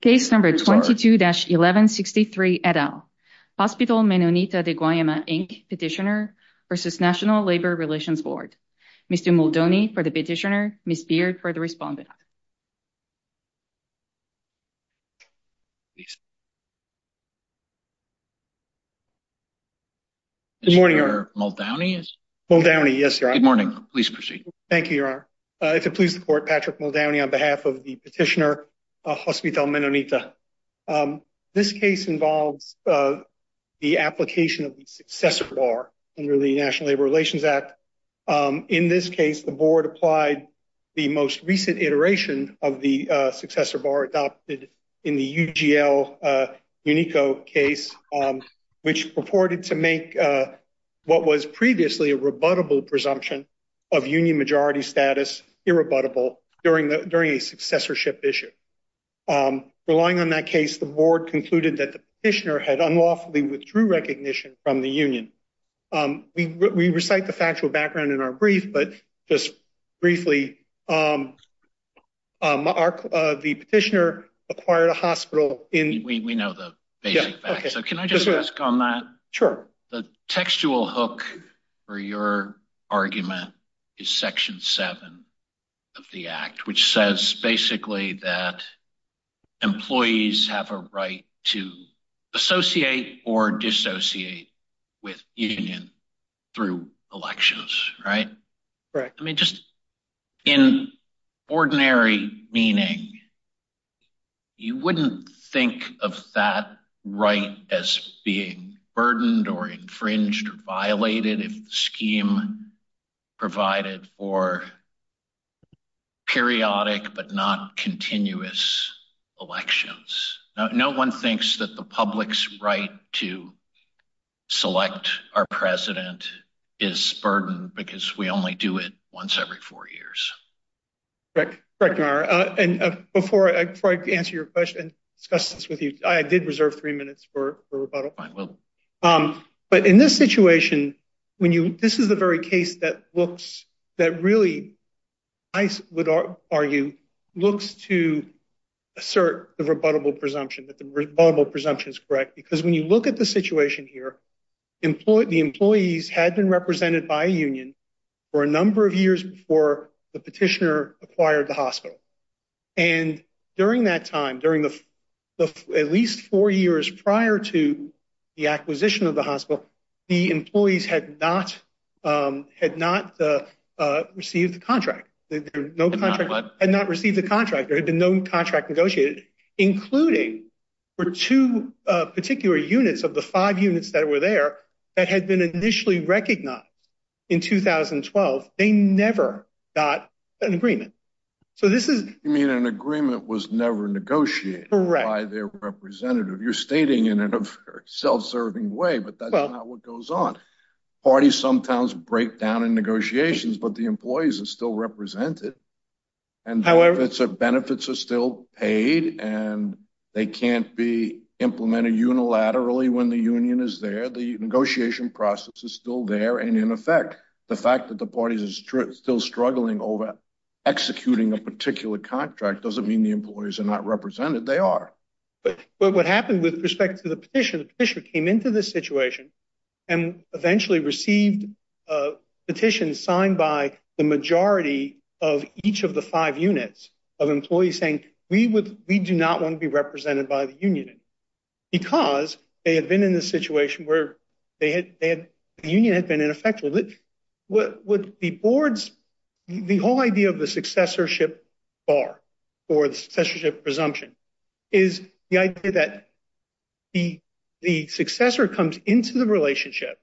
Case No. 22-1163, et al. Hospital Menonita de Guayama, Inc. Petitioner v. National Labor Relations Board. Mr. Muldoney for the petitioner, Ms. Beard for the respondent. Good morning, Your Honor. Mr. Muldowney? Muldowney, yes, Your Honor. Good morning. Please proceed. Thank you, Your Honor. If it please the Court, Patrick Muldowney on behalf of the petitioner, Hospital Menonita. This case involves the application of the successor bar under the National Labor Relations Act. In this case, the board applied the most recent iteration of the successor bar adopted in the UGL Unico case, which purported to make what was previously a rebuttable presumption of union majority status irrebuttable during a successorship issue. Relying on that case, the board concluded that the petitioner had unlawfully withdrew recognition from the union. We recite the factual background in our brief, but just briefly, the petitioner acquired a hospital in… We know the basic facts, so can I just ask on that? Sure. The textual hook for your argument is Section 7 of the Act, which says basically that employees have a right to associate or dissociate with union through elections, right? Right. I mean, just in ordinary meaning, you wouldn't think of that right as being burdened or infringed or violated if the scheme provided for periodic but not continuous elections. No one thinks that the public's right to select our president is burdened because we only do it once every four years. Correct. Before I answer your question and discuss this with you, I did reserve three minutes for rebuttal. I will. But in this situation, this is the very case that really, I would argue, looks to assert the rebuttable presumption, that the rebuttable presumption is correct. Because when you look at the situation here, the employees had been represented by a union for a number of years before the petitioner acquired the hospital. And during that time, at least four years prior to the acquisition of the hospital, the employees had not received the contract. They had not received the contract. There had been no contract negotiated, including for two particular units of the five units that were there that had been initially recognized in 2012. They never got an agreement. You mean an agreement was never negotiated by their representative. You're stating in a very self-serving way, but that's not what goes on. Parties sometimes break down in negotiations, but the employees are still represented. And benefits are still paid, and they can't be implemented unilaterally when the union is there. The negotiation process is still there, and in effect, the fact that the parties are still struggling over executing a particular contract doesn't mean the employees are not represented. They are. But what happened with respect to the petitioner, the petitioner came into this situation and eventually received a petition signed by the majority of each of the five units of employees saying, we do not want to be represented by the union because they had been in this situation where the union had been ineffective. The whole idea of the successorship bar or the successorship presumption is the idea that the successor comes into the relationship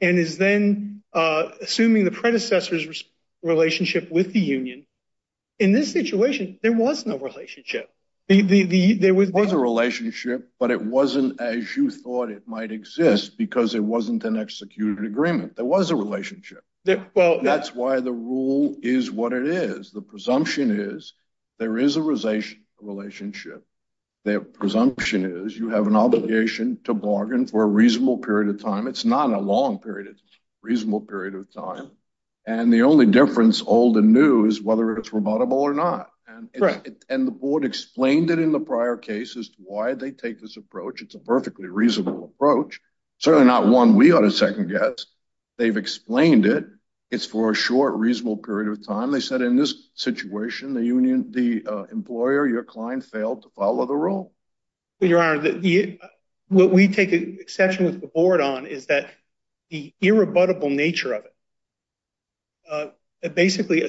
and is then assuming the predecessor's relationship with the union. In this situation, there was no relationship. There was a relationship, but it wasn't as you thought it might exist because it wasn't an executed agreement. There was a relationship. That's why the rule is what it is. The presumption is there is a relationship. The presumption is you have an obligation to bargain for a reasonable period of time. It's not a long period. It's a reasonable period of time. And the only difference old and new is whether it's rebuttable or not. And the board explained it in the prior case as to why they take this approach. It's a perfectly reasonable approach. Certainly not one we ought to second guess. They've explained it. It's for a short, reasonable period of time. They said in this situation, the union, the employer, your client failed to follow the rule. Your Honor, what we take exception with the board on is that the irrebuttable nature of it basically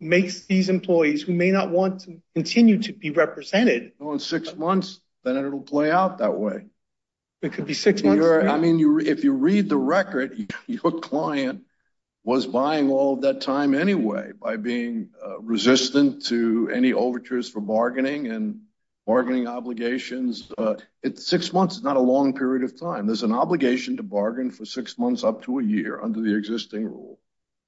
makes these employees who may not want to continue to be represented. Well, in six months, then it'll play out that way. It could be six months. If you read the record, your client was buying all that time anyway by being resistant to any overtures for bargaining and bargaining obligations. Six months is not a long period of time. There's an obligation to bargain for six months up to a year under the existing rule.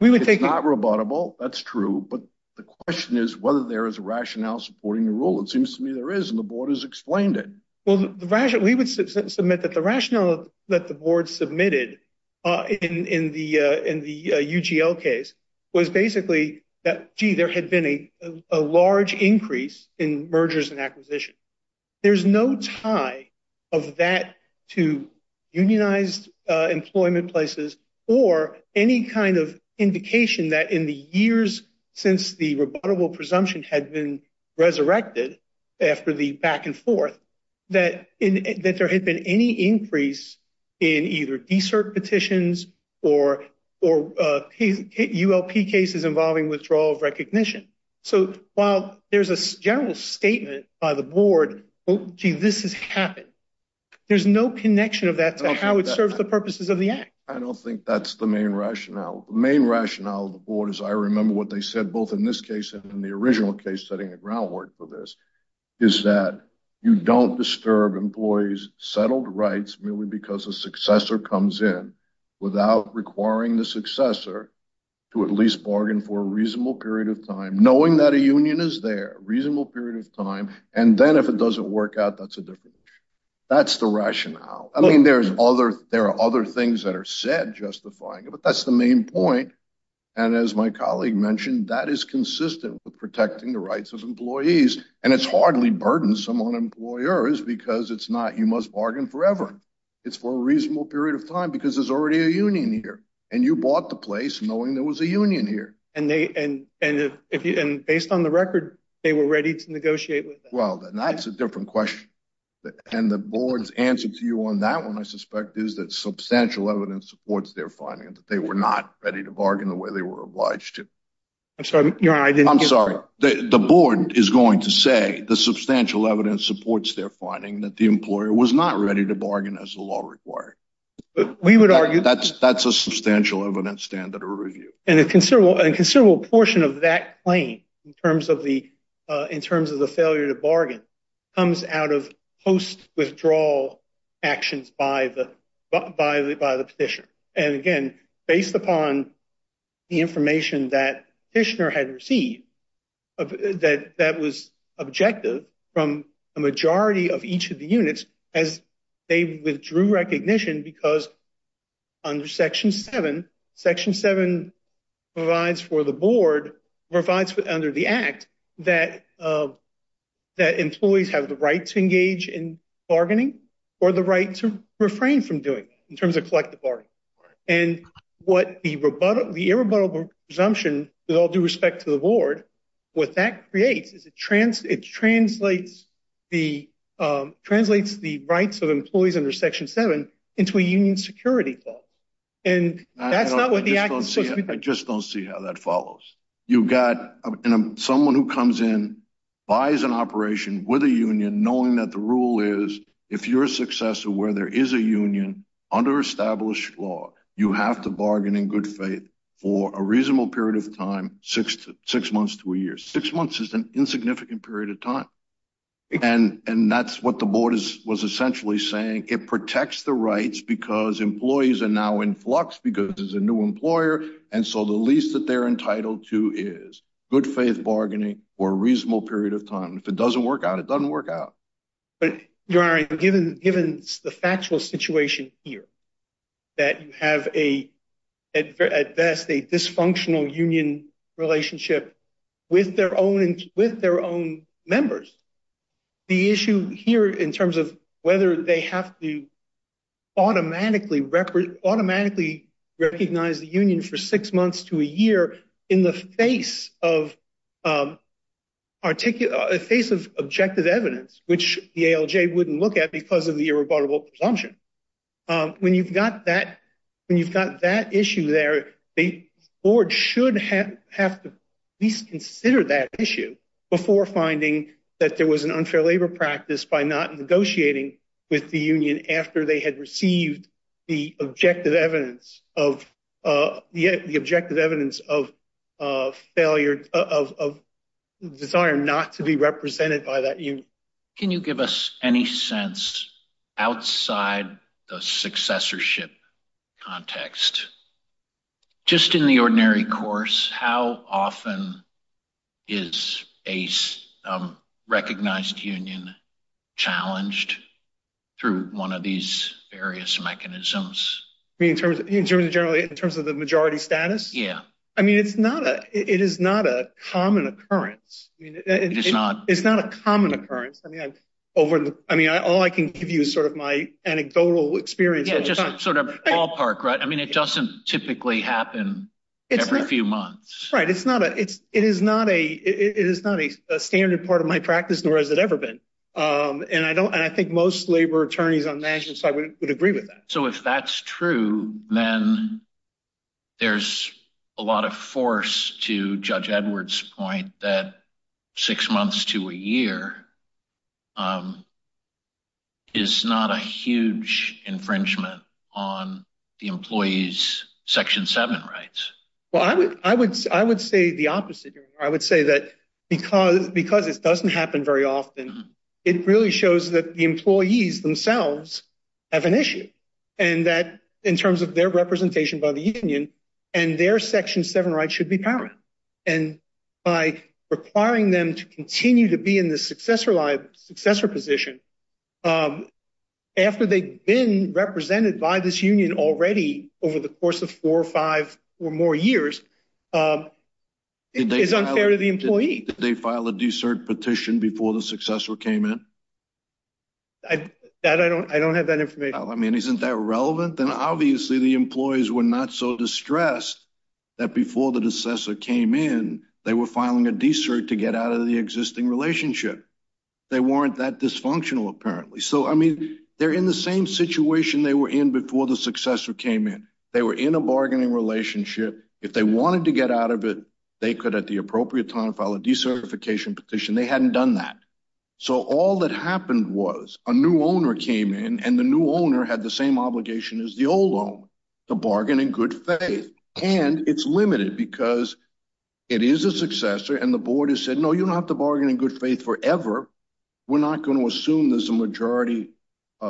It's not rebuttable. That's true. But the question is whether there is a rationale supporting the rule. It seems to me there is, and the board has explained it. We would submit that the rationale that the board submitted in the UGL case was basically that, gee, there had been a large increase in mergers and acquisitions. There's no tie of that to unionized employment places or any kind of indication that in the years since the rebuttable presumption had been resurrected after the back-and-forth, that there had been any increase in either de-cert petitions or ULP cases involving withdrawal of recognition. So while there's a general statement by the board, gee, this has happened, there's no connection of that to how it serves the purposes of the act. I don't think that's the main rationale. The main rationale of the board, as I remember what they said both in this case and in the original case setting the groundwork for this, is that you don't disturb employees' settled rights merely because a successor comes in without requiring the successor to at least bargain for a reasonable period of time, knowing that a union is there, a reasonable period of time. And then if it doesn't work out, that's a different issue. That's the rationale. I mean, there are other things that are said justifying it, but that's the main point. And as my colleague mentioned, that is consistent with protecting the rights of employees. And it's hardly burdensome on employers because it's not you must bargain forever. It's for a reasonable period of time because there's already a union here. And you bought the place knowing there was a union here. And based on the record, they were ready to negotiate with them. Well, then that's a different question. And the board's answer to you on that one, I suspect, is that substantial evidence supports their finding that they were not ready to bargain the way they were obliged to. I'm sorry. I'm sorry. The board is going to say the substantial evidence supports their finding that the employer was not ready to bargain as the law required. We would argue. That's a substantial evidence standard or review. And a considerable portion of that claim, in terms of the failure to bargain, comes out of post-withdrawal actions by the petitioner. And, again, based upon the information that the petitioner had received, that was objective from a majority of each of the units, as they withdrew recognition because under Section 7, Section 7 provides for the board, provides under the act, that employees have the right to engage in bargaining or the right to refrain from doing it in terms of collective bargaining. And what the irrebuttable presumption with all due respect to the board, what that creates is it translates the rights of employees under Section 7 into a union security law. And that's not what the act is supposed to be. I just don't see how that follows. You've got someone who comes in, buys an operation with a union, knowing that the rule is if you're a successor where there is a union under established law, you have to bargain in good faith for a reasonable period of time, six months to a year. Six months is an insignificant period of time. And that's what the board was essentially saying. It protects the rights because employees are now in flux because there's a new employer. And so the least that they're entitled to is good faith bargaining for a reasonable period of time. If it doesn't work out, it doesn't work out. Given the factual situation here, that you have at best a dysfunctional union relationship with their own members, the issue here in terms of whether they have to automatically recognize the union for six months to a year in the face of objective evidence, which the ALJ wouldn't look at because of the irrebuttable presumption. When you've got that, when you've got that issue there, the board should have to at least consider that issue before finding that there was an unfair labor practice by not negotiating with the union after they had received the objective evidence of the objective evidence of failure of desire not to be represented by that union. Can you give us any sense outside the successorship context? Just in the ordinary course, how often is a recognized union challenged through one of these various mechanisms? In terms of the majority status? Yeah. I mean, it is not a common occurrence. It is not. It's not a common occurrence. I mean, all I can give you is sort of my anecdotal experience. Yeah, just sort of ballpark, right? I mean, it doesn't typically happen every few months. Right. It is not a standard part of my practice, nor has it ever been. And I think most labor attorneys on national side would agree with that. So if that's true, then there's a lot of force to Judge Edwards' point that six months to a year is not a huge infringement on the employees' Section 7 rights. Well, I would say the opposite. I would say that because it doesn't happen very often, it really shows that the employees themselves have an issue. And that in terms of their representation by the union and their Section 7 rights should be paramount. And by requiring them to continue to be in the successor position after they've been represented by this union already over the course of four or five or more years, it is unfair to the employee. Did they file a de-cert petition before the successor came in? I don't have that information. Well, I mean, isn't that relevant? Then obviously the employees were not so distressed that before the successor came in, they were filing a de-cert to get out of the existing relationship. They weren't that dysfunctional apparently. So, I mean, they're in the same situation they were in before the successor came in. They were in a bargaining relationship. If they wanted to get out of it, they could at the appropriate time file a de-certification petition. They hadn't done that. So, all that happened was a new owner came in and the new owner had the same obligation as the old owner, to bargain in good faith. And it's limited because it is a successor and the board has said, no, you don't have to bargain in good faith forever. We're not going to assume there's a majority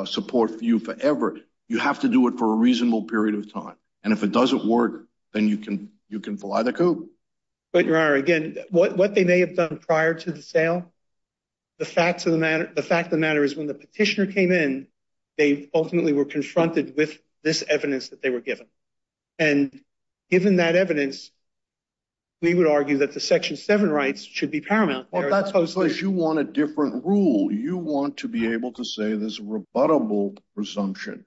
support for you forever. You have to do it for a reasonable period of time. And if it doesn't work, then you can fly the coop. But, Your Honor, again, what they may have done prior to the sale? The fact of the matter is when the petitioner came in, they ultimately were confronted with this evidence that they were given. And given that evidence, we would argue that the Section 7 rights should be paramount. Well, that's because you want a different rule. You want to be able to say there's a rebuttable presumption,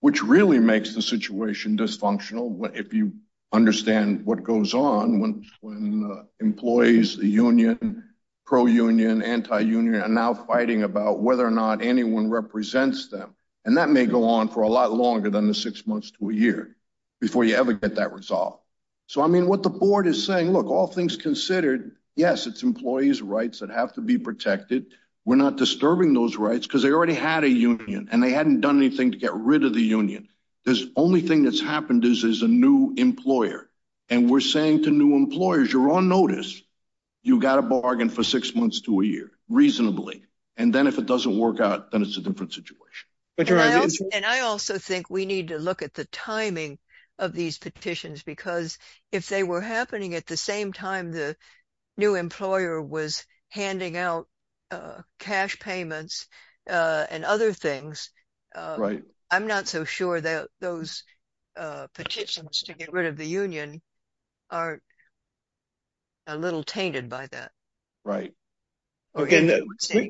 which really makes the situation dysfunctional. If you understand what goes on when employees, the union, pro-union, anti-union are now fighting about whether or not anyone represents them. And that may go on for a lot longer than the six months to a year before you ever get that resolved. So, I mean, what the board is saying, look, all things considered, yes, it's employees' rights that have to be protected. We're not disturbing those rights because they already had a union and they hadn't done anything to get rid of the union. The only thing that's happened is there's a new employer. And we're saying to new employers, you're on notice. You got a bargain for six months to a year, reasonably. And then if it doesn't work out, then it's a different situation. And I also think we need to look at the timing of these petitions because if they were happening at the same time the new employer was handing out cash payments and other things. Right. I'm not so sure that those petitions to get rid of the union are a little tainted by that. Right. The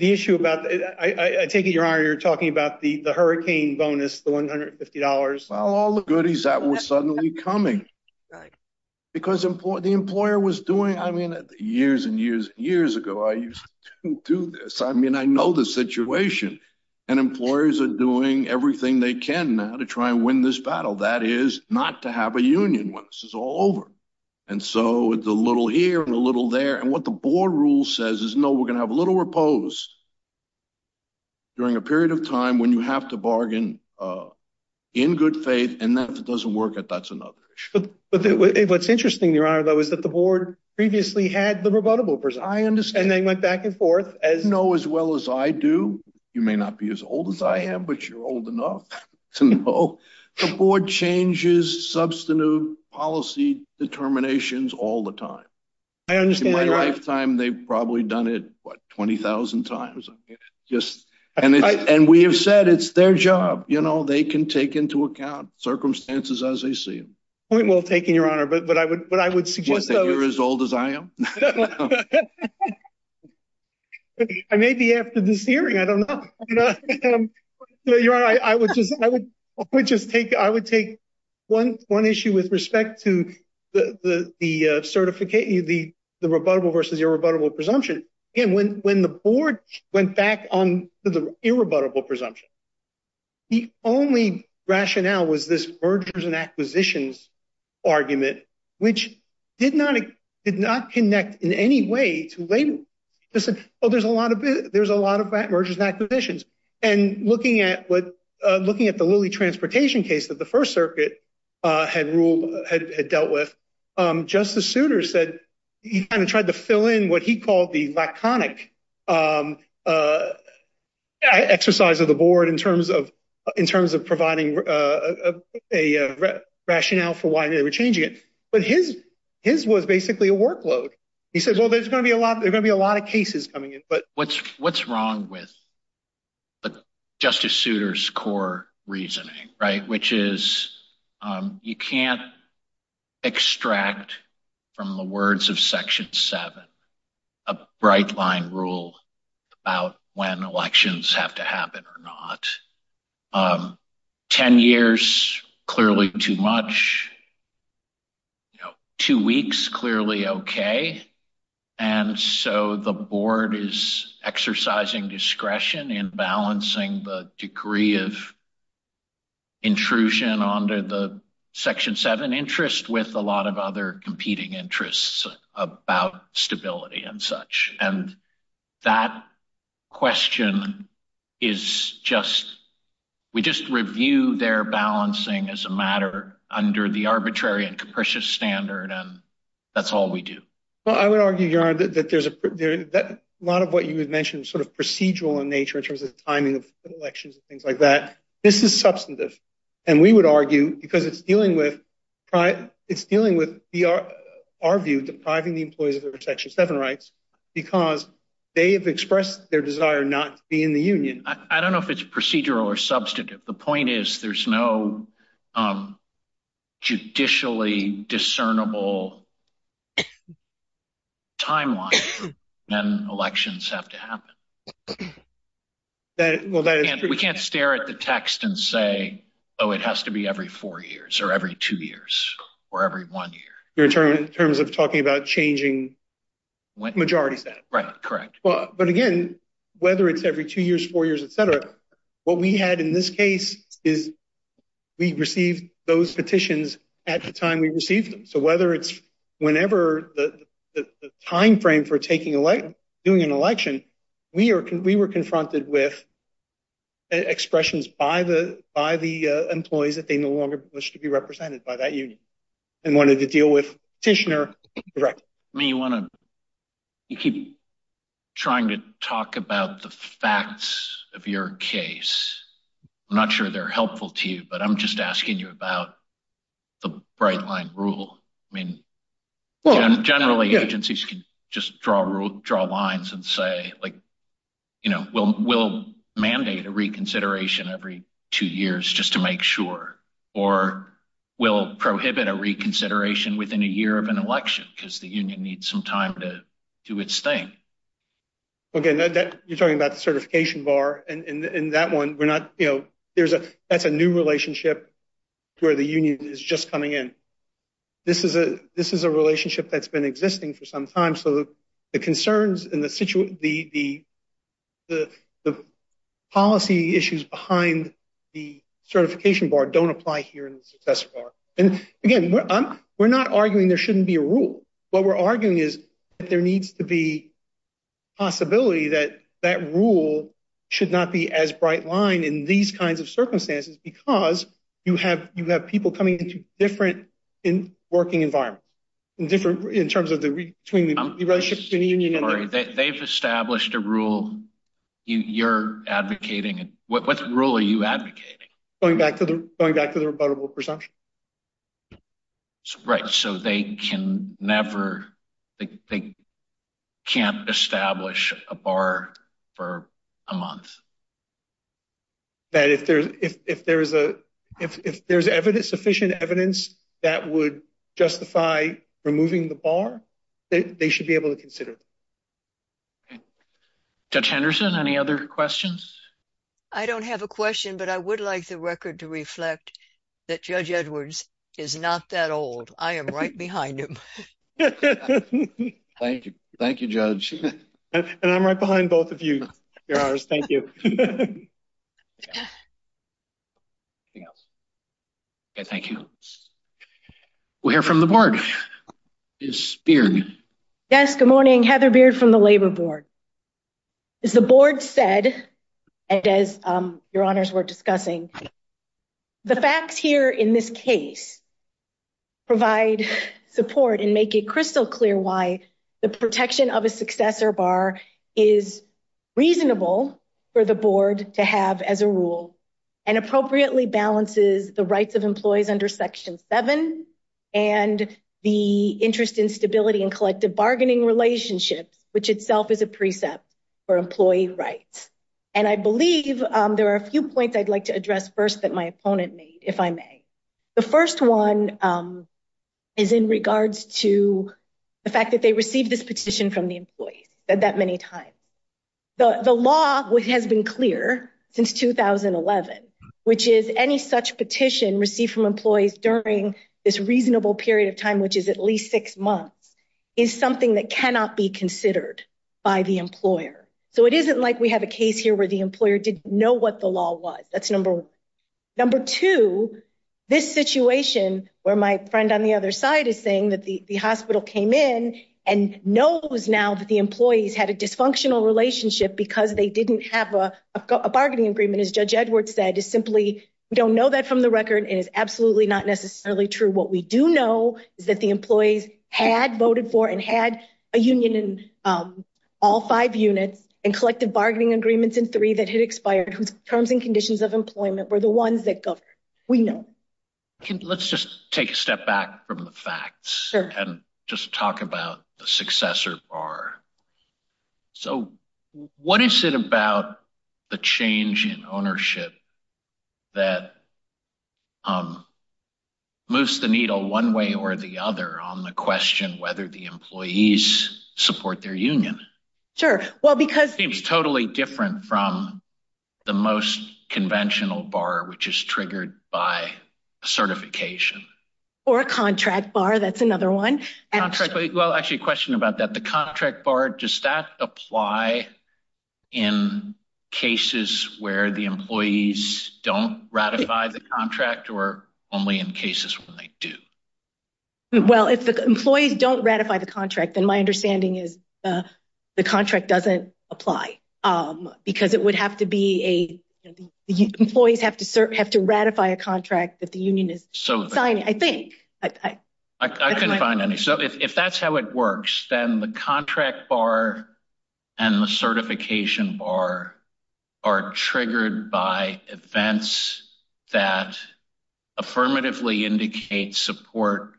issue about, I take it, Your Honor, you're talking about the hurricane bonus, the $150. Well, all the goodies that were suddenly coming. Right. Because the employer was doing, I mean, years and years and years ago, I used to do this. I mean, I know the situation. And employers are doing everything they can to try and win this battle. That is not to have a union when this is all over. And so it's a little here and a little there. And what the board rule says is, no, we're going to have a little repose during a period of time when you have to bargain in good faith. And if it doesn't work out, that's another issue. But what's interesting, Your Honor, though, is that the board previously had the rebuttable. I understand. And they went back and forth. No, as well as I do. You may not be as old as I am, but you're old enough to know. The board changes substantive policy determinations all the time. I understand. In my lifetime, they've probably done it, what, 20,000 times. And we have said it's their job. They can take into account circumstances as they see them. Point well taken, Your Honor. But I would suggest that you're as old as I am. I may be after this hearing. I don't know. Your Honor, I would just take one issue with respect to the rebuttable versus irrebuttable presumption. When the board went back on the irrebuttable presumption, the only rationale was this mergers and acquisitions argument, which did not connect in any way to labor. They said, oh, there's a lot of mergers and acquisitions. And looking at the Lilly Transportation case that the First Circuit had ruled, had dealt with, Justice Souter said he kind of tried to fill in what he called the laconic exercise of the board in terms of providing a rationale for why they were changing it. But his was basically a workload. He said, well, there's going to be a lot of cases coming in. What's wrong with Justice Souter's core reasoning? Which is you can't extract from the words of Section 7 a bright line rule about when elections have to happen or not. Ten years, clearly too much. Two weeks, clearly OK. And so the board is exercising discretion in balancing the degree of intrusion onto the Section 7 interest with a lot of other competing interests about stability and such. And that question is just, we just review their balancing as a matter under the arbitrary and capricious standard. And that's all we do. Well, I would argue that there's a lot of what you mentioned sort of procedural in nature in terms of timing of elections and things like that. This is substantive. And we would argue because it's dealing with it's dealing with our view, depriving the employees of their Section 7 rights because they have expressed their desire not to be in the union. I don't know if it's procedural or substantive. The point is, there's no judicially discernible timeline when elections have to happen. We can't stare at the text and say, oh, it has to be every four years or every two years or every one year. In terms of talking about changing majorities. Right. Correct. But again, whether it's every two years, four years, et cetera. What we had in this case is we received those petitions at the time we received them. So whether it's whenever the time frame for taking elect doing an election, we are we were confronted with expressions by the by the employees that they no longer wish to be represented by that union. And wanted to deal with Tishner. Correct. I mean, you want to keep trying to talk about the facts of your case. I'm not sure they're helpful to you, but I'm just asking you about the bright line rule. I mean, generally, agencies can just draw a rule, draw lines and say, like, you know, we'll mandate a reconsideration every two years just to make sure, or we'll prohibit a reconsideration within a year of an election because the union needs some time to do its thing. OK, now that you're talking about the certification bar and that one, we're not. You know, there's a that's a new relationship where the union is just coming in. This is a this is a relationship that's been existing for some time. So the concerns in the situation, the the the the policy issues behind the certification bar don't apply here. And again, we're not arguing there shouldn't be a rule. What we're arguing is that there needs to be possibility that that rule should not be as bright line in these kinds of circumstances, because you have you have people coming into different in working environment and different in terms of the between the relationship. They've established a rule. You're advocating. What rule are you advocating? Going back to the going back to the rebuttable presumption. Right. So they can never they can't establish a bar for a month. That if there's if there is a if there's evidence, sufficient evidence that would justify removing the bar, they should be able to consider. Judge Henderson, any other questions? I don't have a question, but I would like the record to reflect that Judge Edwards is not that old. I am right behind him. Thank you. Thank you, Judge. And I'm right behind both of you. Thank you. Thank you. We're from the board is Beard. Yes. Good morning. Heather Beard from the Labor Board. As the board said, and as your honors were discussing. The facts here in this case. Provide support and make it crystal clear why the protection of a successor bar is reasonable for the board to have as a rule. And appropriately balances the rights of employees under section seven and the interest in stability and collective bargaining relationships, which itself is a precept for employee rights. And I believe there are a few points I'd like to address first that my opponent made, if I may. The first one is in regards to the fact that they received this petition from the employees that many times. The law has been clear since 2011, which is any such petition received from employees during this reasonable period of time, which is at least six months is something that cannot be considered by the employer. So it isn't like we have a case here where the employer didn't know what the law was. Number two, this situation where my friend on the other side is saying that the hospital came in and knows now that the employees had a dysfunctional relationship because they didn't have a bargaining agreement. As Judge Edwards said is simply don't know that from the record is absolutely not necessarily true. What we do know is that the employees had voted for and had a union in all five units and collective bargaining agreements in three that had expired, whose terms and conditions of employment were the ones that we know. Let's just take a step back from the facts and just talk about the successor bar. So what is it about the change in ownership that moves the needle one way or the other on the question whether the employees support their union? Sure. Well, because it's totally different from the most conventional bar, which is triggered by certification or a contract bar. That's another one. Well, actually, a question about that. The contract bar, does that apply in cases where the employees don't ratify the contract or only in cases when they do? Well, if the employees don't ratify the contract, then my understanding is the contract doesn't apply because it would have to be a employees have to have to ratify a contract that the union is. So I think I can find any. So if that's how it works, then the contract bar and the certification bar are triggered by events that affirmatively indicate support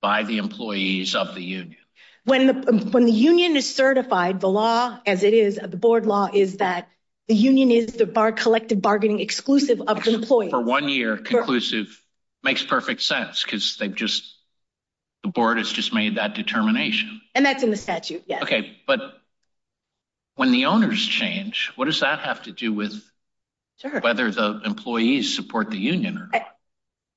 by the employees of the union. When the when the union is certified, the law, as it is the board law, is that the union is the collective bargaining exclusive of employee for one year. Conclusive makes perfect sense because they've just the board has just made that determination. And that's in the statute. Okay. But when the owners change, what does that have to do with whether the employees support the union?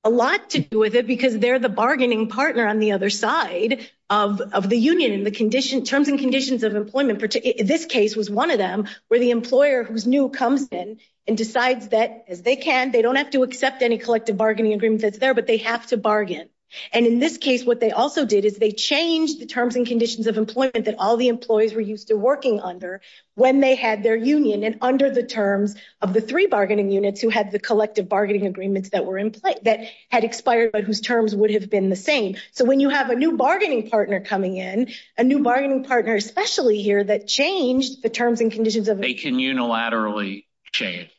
A lot to do with it because they're the bargaining partner on the other side of the union in the condition terms and conditions of employment. This case was one of them where the employer who's new comes in and decides that as they can, they don't have to accept any collective bargaining agreement that's there, but they have to bargain. And in this case, what they also did is they changed the terms and conditions of employment that all the employees were used to working under when they had their union. And under the terms of the three bargaining units who had the collective bargaining agreements that were in place that had expired, but whose terms would have been the same. So, when you have a new bargaining partner coming in a new bargaining partner, especially here that changed the terms and conditions of they can unilaterally change.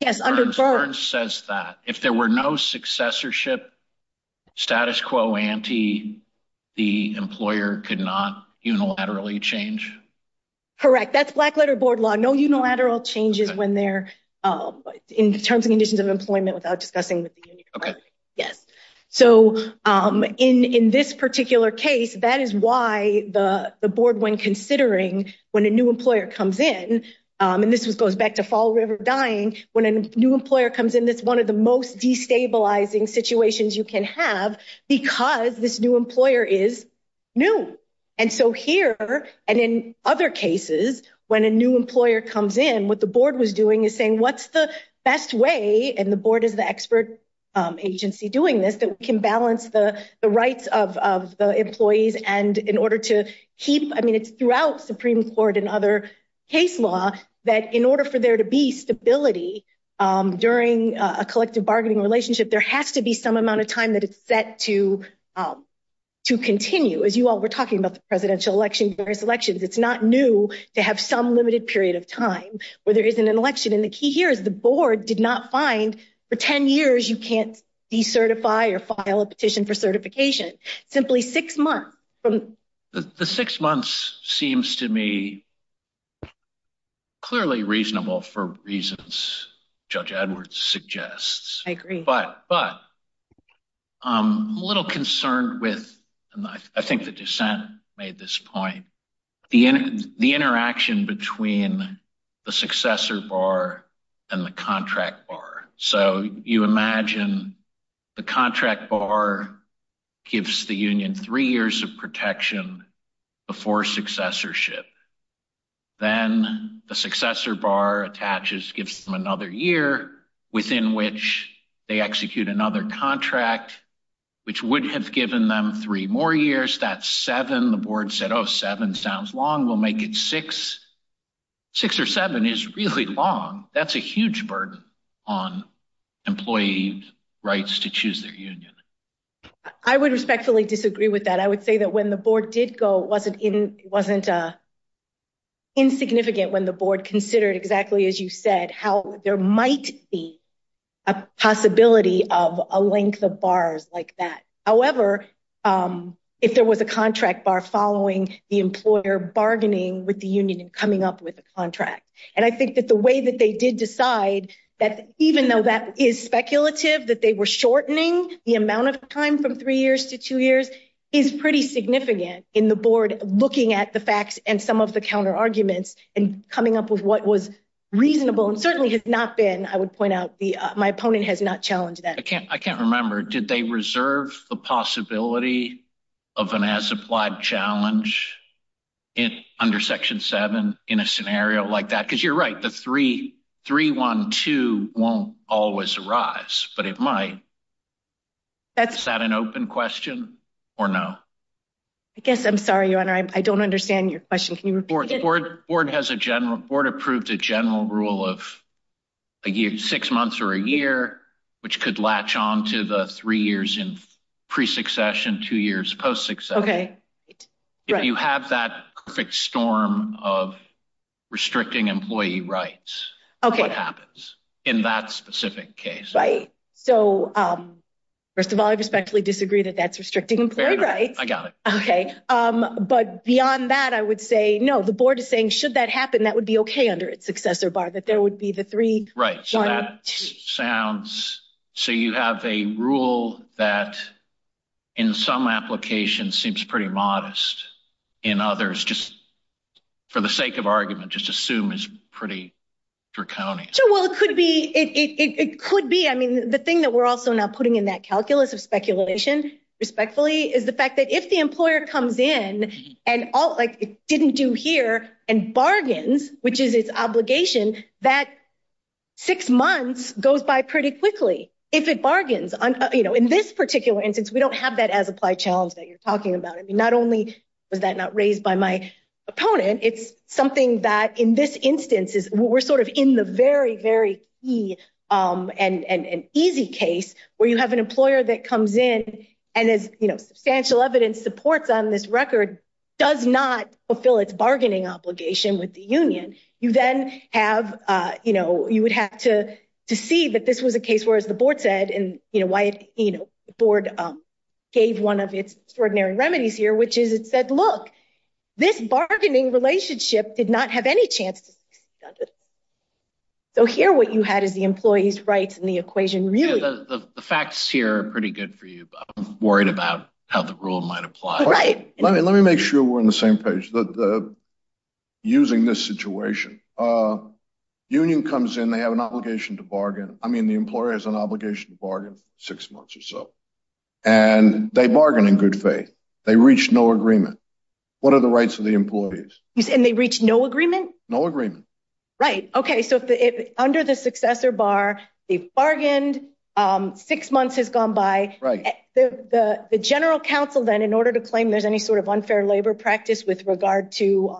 Yes, says that if there were no successorship status quo ante, the employer could not unilaterally change. Correct. That's black letter board law. No unilateral changes when they're in terms of conditions of employment without discussing. Okay. Yes. So, in this particular case, that is why the board, when considering when a new employer comes in, and this was goes back to fall river dying when a new employer comes in. That's one of the most destabilizing situations you can have because this new employer is new. And so here, and in other cases, when a new employer comes in, what the board was doing is saying, what's the best way? And the board is the expert agency doing this that can balance the rights of the employees. And in order to keep I mean, it's throughout Supreme Court and other case law that in order for there to be stability during a collective bargaining relationship, there has to be some amount of time that it's set to to continue as you all were talking about the presidential election various elections. It's not new to have some limited period of time where there isn't an election. And the key here is the board did not find for ten years. You can't decertify or file a petition for certification. Simply six months from the six months seems to me clearly reasonable for reasons. Judge Edwards suggests. I agree. But but I'm a little concerned with. I think the dissent made this point. The the interaction between the successor bar and the contract bar. So you imagine the contract bar gives the union three years of protection before successorship. Then the successor bar attaches, gives them another year within which they execute another contract, which would have given them three more years. That's seven. The board said, oh, seven sounds long. We'll make it six. Six or seven is really long. That's a huge burden on employee rights to choose their union. I would respectfully disagree with that. I would say that when the board did go, wasn't it wasn't insignificant when the board considered exactly, as you said, how there might be a possibility of a length of bars like that. However, if there was a contract bar following the employer bargaining with the union and coming up with a contract. And I think that the way that they did decide that even though that is speculative, that they were shortening the amount of time from three years to two years is pretty significant in the board. Looking at the facts and some of the counter arguments and coming up with what was reasonable and certainly has not been. I would point out my opponent has not challenged that. I can't. I can't remember. Did they reserve the possibility of an as applied challenge in under section seven in a scenario like that? Because you're right. The three, three, one, two won't always arise, but it might. That's not an open question or no. I guess I'm sorry. I don't understand your question. The board board has a general board approved a general rule of a year, six months or a year, which could latch on to the three years in pre succession, two years post success. OK, you have that perfect storm of restricting employee rights. OK, what happens in that specific case? Right. So, first of all, I respectfully disagree that that's restricting employee rights. I got it. OK. But beyond that, I would say, no, the board is saying should that happen, that would be OK under its successor bar, that there would be the three. Right. So that sounds so you have a rule that in some applications seems pretty modest in others. Just for the sake of argument, just assume is pretty draconian. So, well, it could be it could be. I mean, the thing that we're also not putting in that calculus of speculation, respectfully, is the fact that if the employer comes in and didn't do here and bargains, which is its obligation that six months goes by pretty quickly. If it bargains, you know, in this particular instance, we don't have that as applied challenge that you're talking about. I mean, not only was that not raised by my opponent, it's something that in this instance is we're sort of in the very, very easy case where you have an employer that comes in and is substantial evidence supports on this record, does not fulfill its bargaining obligation with the union. You then have you know, you would have to to see that this was a case where, as the board said, and, you know, why, you know, the board gave one of its extraordinary remedies here, which is it said, look, this bargaining relationship did not have any chance. So here, what you had is the employees rights and the equation, really, the facts here are pretty good for you. I'm worried about how the rule might apply. Right. Let me let me make sure we're on the same page. The using this situation union comes in, they have an obligation to bargain. I mean, the employer has an obligation to bargain six months or so and they bargain in good faith. They reach no agreement. What are the rights of the employees? And they reach no agreement. No agreement. Right. OK. So under the successor bar, they bargained. Six months has gone by. Right. The general counsel, then, in order to claim there's any sort of unfair labor practice with regard to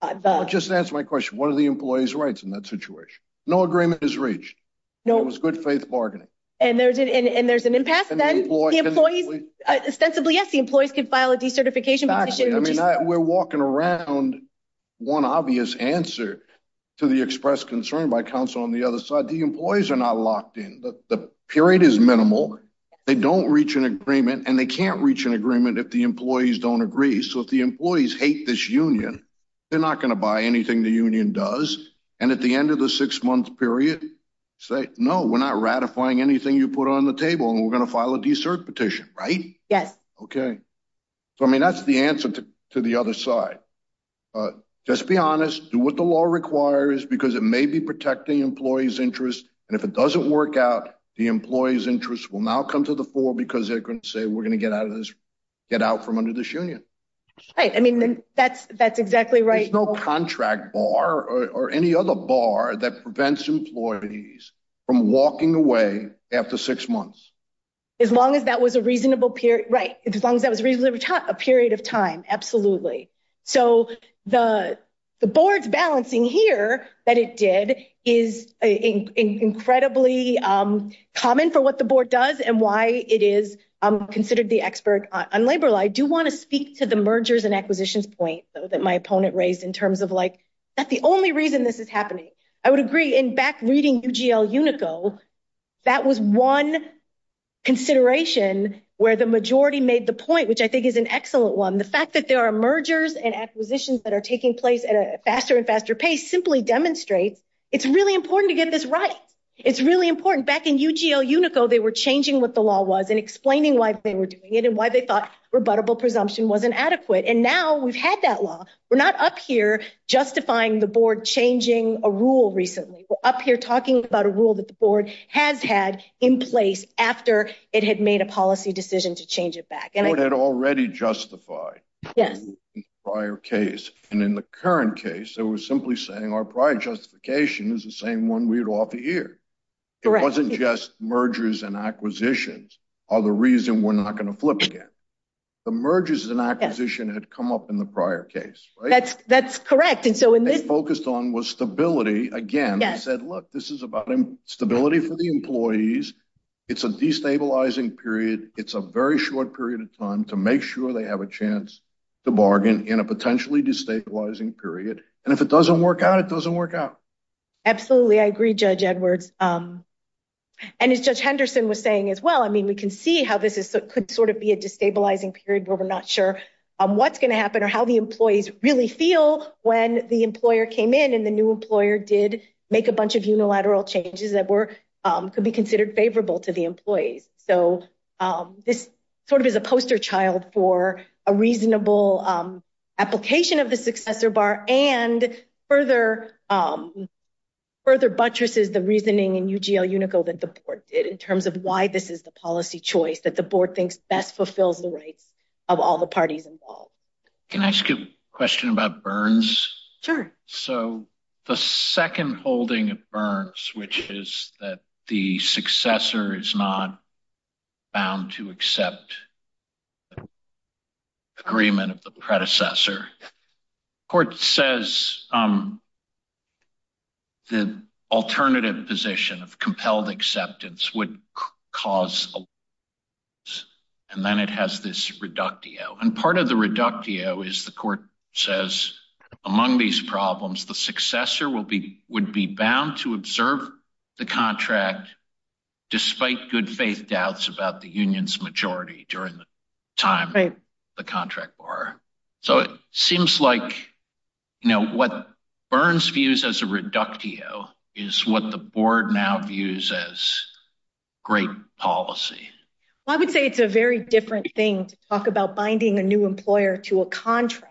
the. Just answer my question. What are the employees rights in that situation? No agreement is reached. No. It was good faith bargaining. And there's it. And there's an impasse that employees ostensibly. Yes, the employees could file a decertification. I mean, we're walking around. One obvious answer to the express concern by counsel on the other side. The employees are not locked in. The period is minimal. They don't reach an agreement and they can't reach an agreement if the employees don't agree. So if the employees hate this union, they're not going to buy anything. The union does. And at the end of the six month period, say, no, we're not ratifying anything you put on the table and we're going to file a desert petition. Right. Yes. OK. So, I mean, that's the answer to the other side. Just be honest. Do what the law requires, because it may be protecting employees interest. And if it doesn't work out, the employees interest will now come to the fore because they're going to say we're going to get out of this. Get out from under this union. I mean, that's that's exactly right. No contract bar or any other bar that prevents employees from walking away after six months. As long as that was a reasonable period. Right. As long as that was reasonably a period of time. Absolutely. So the the board's balancing here that it did is incredibly common for what the board does and why it is considered the expert on labor law. I do want to speak to the mergers and acquisitions point that my opponent raised in terms of like that's the only reason this is happening. I would agree in back reading UGL Unico. That was one consideration where the majority made the point, which I think is an excellent one. The fact that there are mergers and acquisitions that are taking place at a faster and faster pace simply demonstrates it's really important to get this right. It's really important. Back in UGL Unico, they were changing what the law was and explaining why they were doing it and why they thought rebuttable presumption wasn't adequate. And now we've had that law. We're not up here justifying the board changing a rule. Recently, we're up here talking about a rule that the board has had in place after it had made a policy decision to change it back. And I had already justified. Yes. Prior case. And in the current case, it was simply saying our prior justification is the same one we'd offer here. It wasn't just mergers and acquisitions are the reason we're not going to flip again. The mergers and acquisition had come up in the prior case. That's that's correct. And so in this focused on was stability. Again, I said, look, this is about stability for the employees. It's a destabilizing period. It's a very short period of time to make sure they have a chance to bargain in a potentially destabilizing period. And if it doesn't work out, it doesn't work out. Absolutely. I agree, Judge Edwards. And as Judge Henderson was saying as well, I mean, we can see how this is could sort of be a destabilizing period where we're not sure what's going to happen or how the employees really feel when the employer came in. And the new employer did make a bunch of unilateral changes that were could be considered favorable to the employees. So this sort of is a poster child for a reasonable application of the successor bar and further. Further buttresses the reasoning in UGL Unico that the board did in terms of why this is the policy choice that the board thinks best fulfills the rights of all the parties involved. Can I ask a question about Burns? Sure. So the second holding of Burns, which is that the successor is not bound to accept. Agreement of the predecessor court says. The alternative position of compelled acceptance would cause. And then it has this reductio and part of the reductio is the court says among these problems, the successor will be would be bound to observe the contract despite good faith doubts about the union's majority during the time. Right. The contract bar. So it seems like, you know, what Burns views as a reductio is what the board now views as great policy. I would say it's a very different thing to talk about binding a new employer to a contract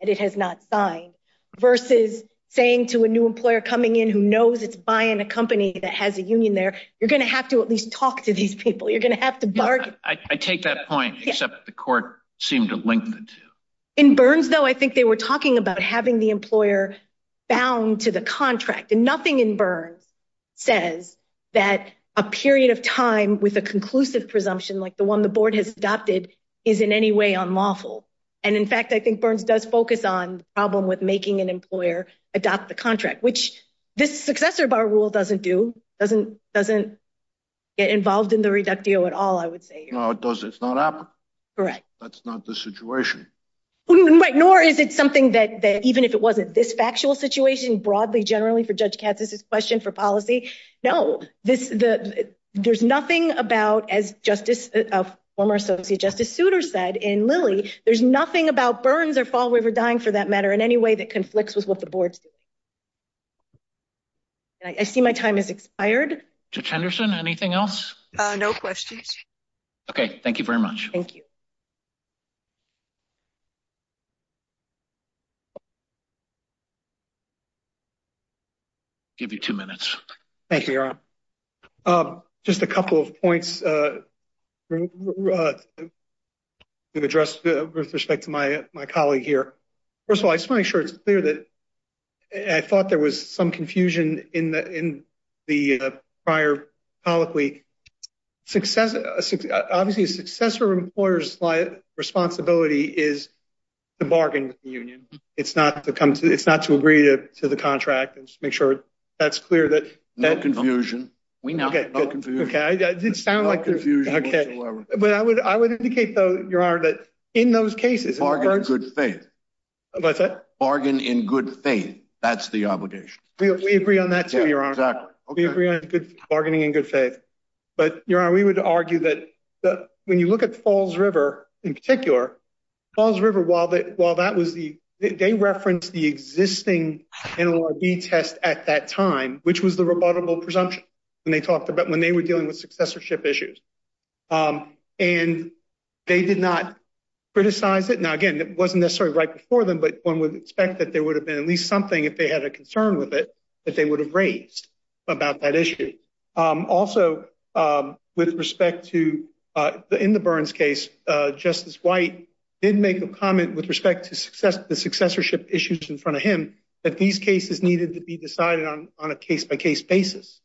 that it has not signed versus saying to a new employer coming in who knows it's buying a company that has a union there. You're going to have to at least talk to these people. You're going to have to bargain. I take that point, except the court seemed to link the two. In Burns, though, I think they were talking about having the employer bound to the contract and nothing in Burns says that a period of time with a conclusive presumption like the one the board has adopted is in any way unlawful. And in fact, I think Burns does focus on the problem with making an employer adopt the contract, which this successor bar rule doesn't do, doesn't doesn't get involved in the reductio at all, I would say. No, it doesn't. It's not happening. Correct. That's not the situation. Right. Nor is it something that even if it wasn't this factual situation broadly, generally for Judge Katz, this is a question for policy. No, there's nothing about, as Justice, former Associate Justice Souter said in Lilly, there's nothing about Burns or Fall River dying for that matter in any way that conflicts with what the board sees. I see my time has expired. Judge Henderson, anything else? No questions. Okay, thank you very much. Thank you. Give you 2 minutes. Thank you. Just a couple of points to address with respect to my, my colleague here. First of all, I just want to make sure it's clear that I thought there was some confusion in the in the prior public week success. Obviously, a successor employer's responsibility is to bargain with the union. It's not to come to it's not to agree to the contract and make sure that's clear that that confusion. We know. Okay. Okay. I did sound like confusion. Okay. But I would, I would indicate, though, your honor, that in those cases are good faith. But that bargain in good faith, that's the obligation. We agree on that to your honor. We agree on good bargaining and good faith. But your honor, we would argue that when you look at falls river in particular falls river, while that while that was the day reference, the existing test at that time, which was the rebuttable presumption. And they talked about when they were dealing with successorship issues, and they did not criticize it. Now, again, it wasn't necessarily right before them. But one would expect that there would have been at least something if they had a concern with it that they would have raised about that issue. Also, with respect to the, in the burns case, justice white didn't make a comment with respect to success, the successorship issues in front of him that these cases needed to be decided on on a case by case basis.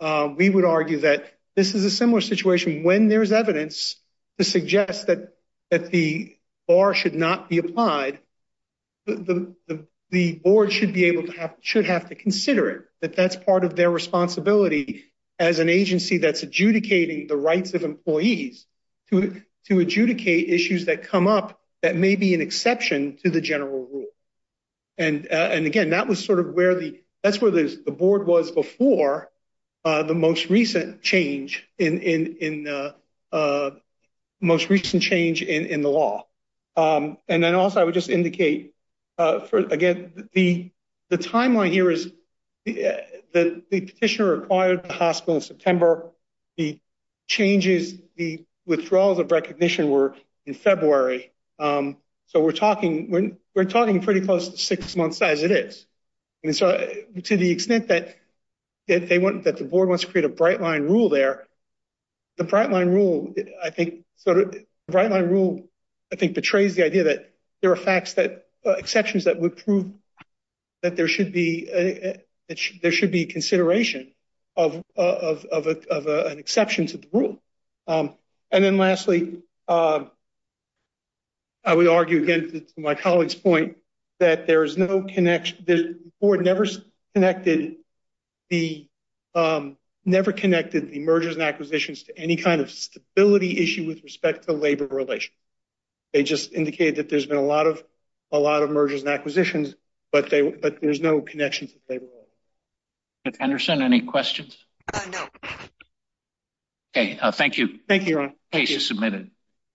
We would argue that this is a similar situation when there is evidence to suggest that that the bar should not be applied. The board should be able to have should have to consider it that that's part of their responsibility as an agency that's adjudicating the rights of employees to to adjudicate issues that come up that may be an exception to the general rule. And and again, that was sort of where the that's where the board was before the most recent change in in in the most recent change in the law. And then also, I would just indicate for again, the, the timeline here is that the petitioner acquired the hospital in September. The changes, the withdrawals of recognition were in February. So, we're talking when we're talking pretty close to six months as it is. And so, to the extent that they want that the board wants to create a bright line rule there, the bright line rule, I think, sort of bright line rule, I think, betrays the idea that there are facts that exceptions that would prove that there should be there should be consideration of of an exception to the rule. And then lastly, I would argue against my colleague's point that there is no connection. The board never connected the never connected the mergers and acquisitions to any kind of stability issue with respect to labor relations. They just indicated that there's been a lot of a lot of mergers and acquisitions, but they, but there's no connections. Anderson, any questions? No. Okay, thank you. Thank you. Submitted.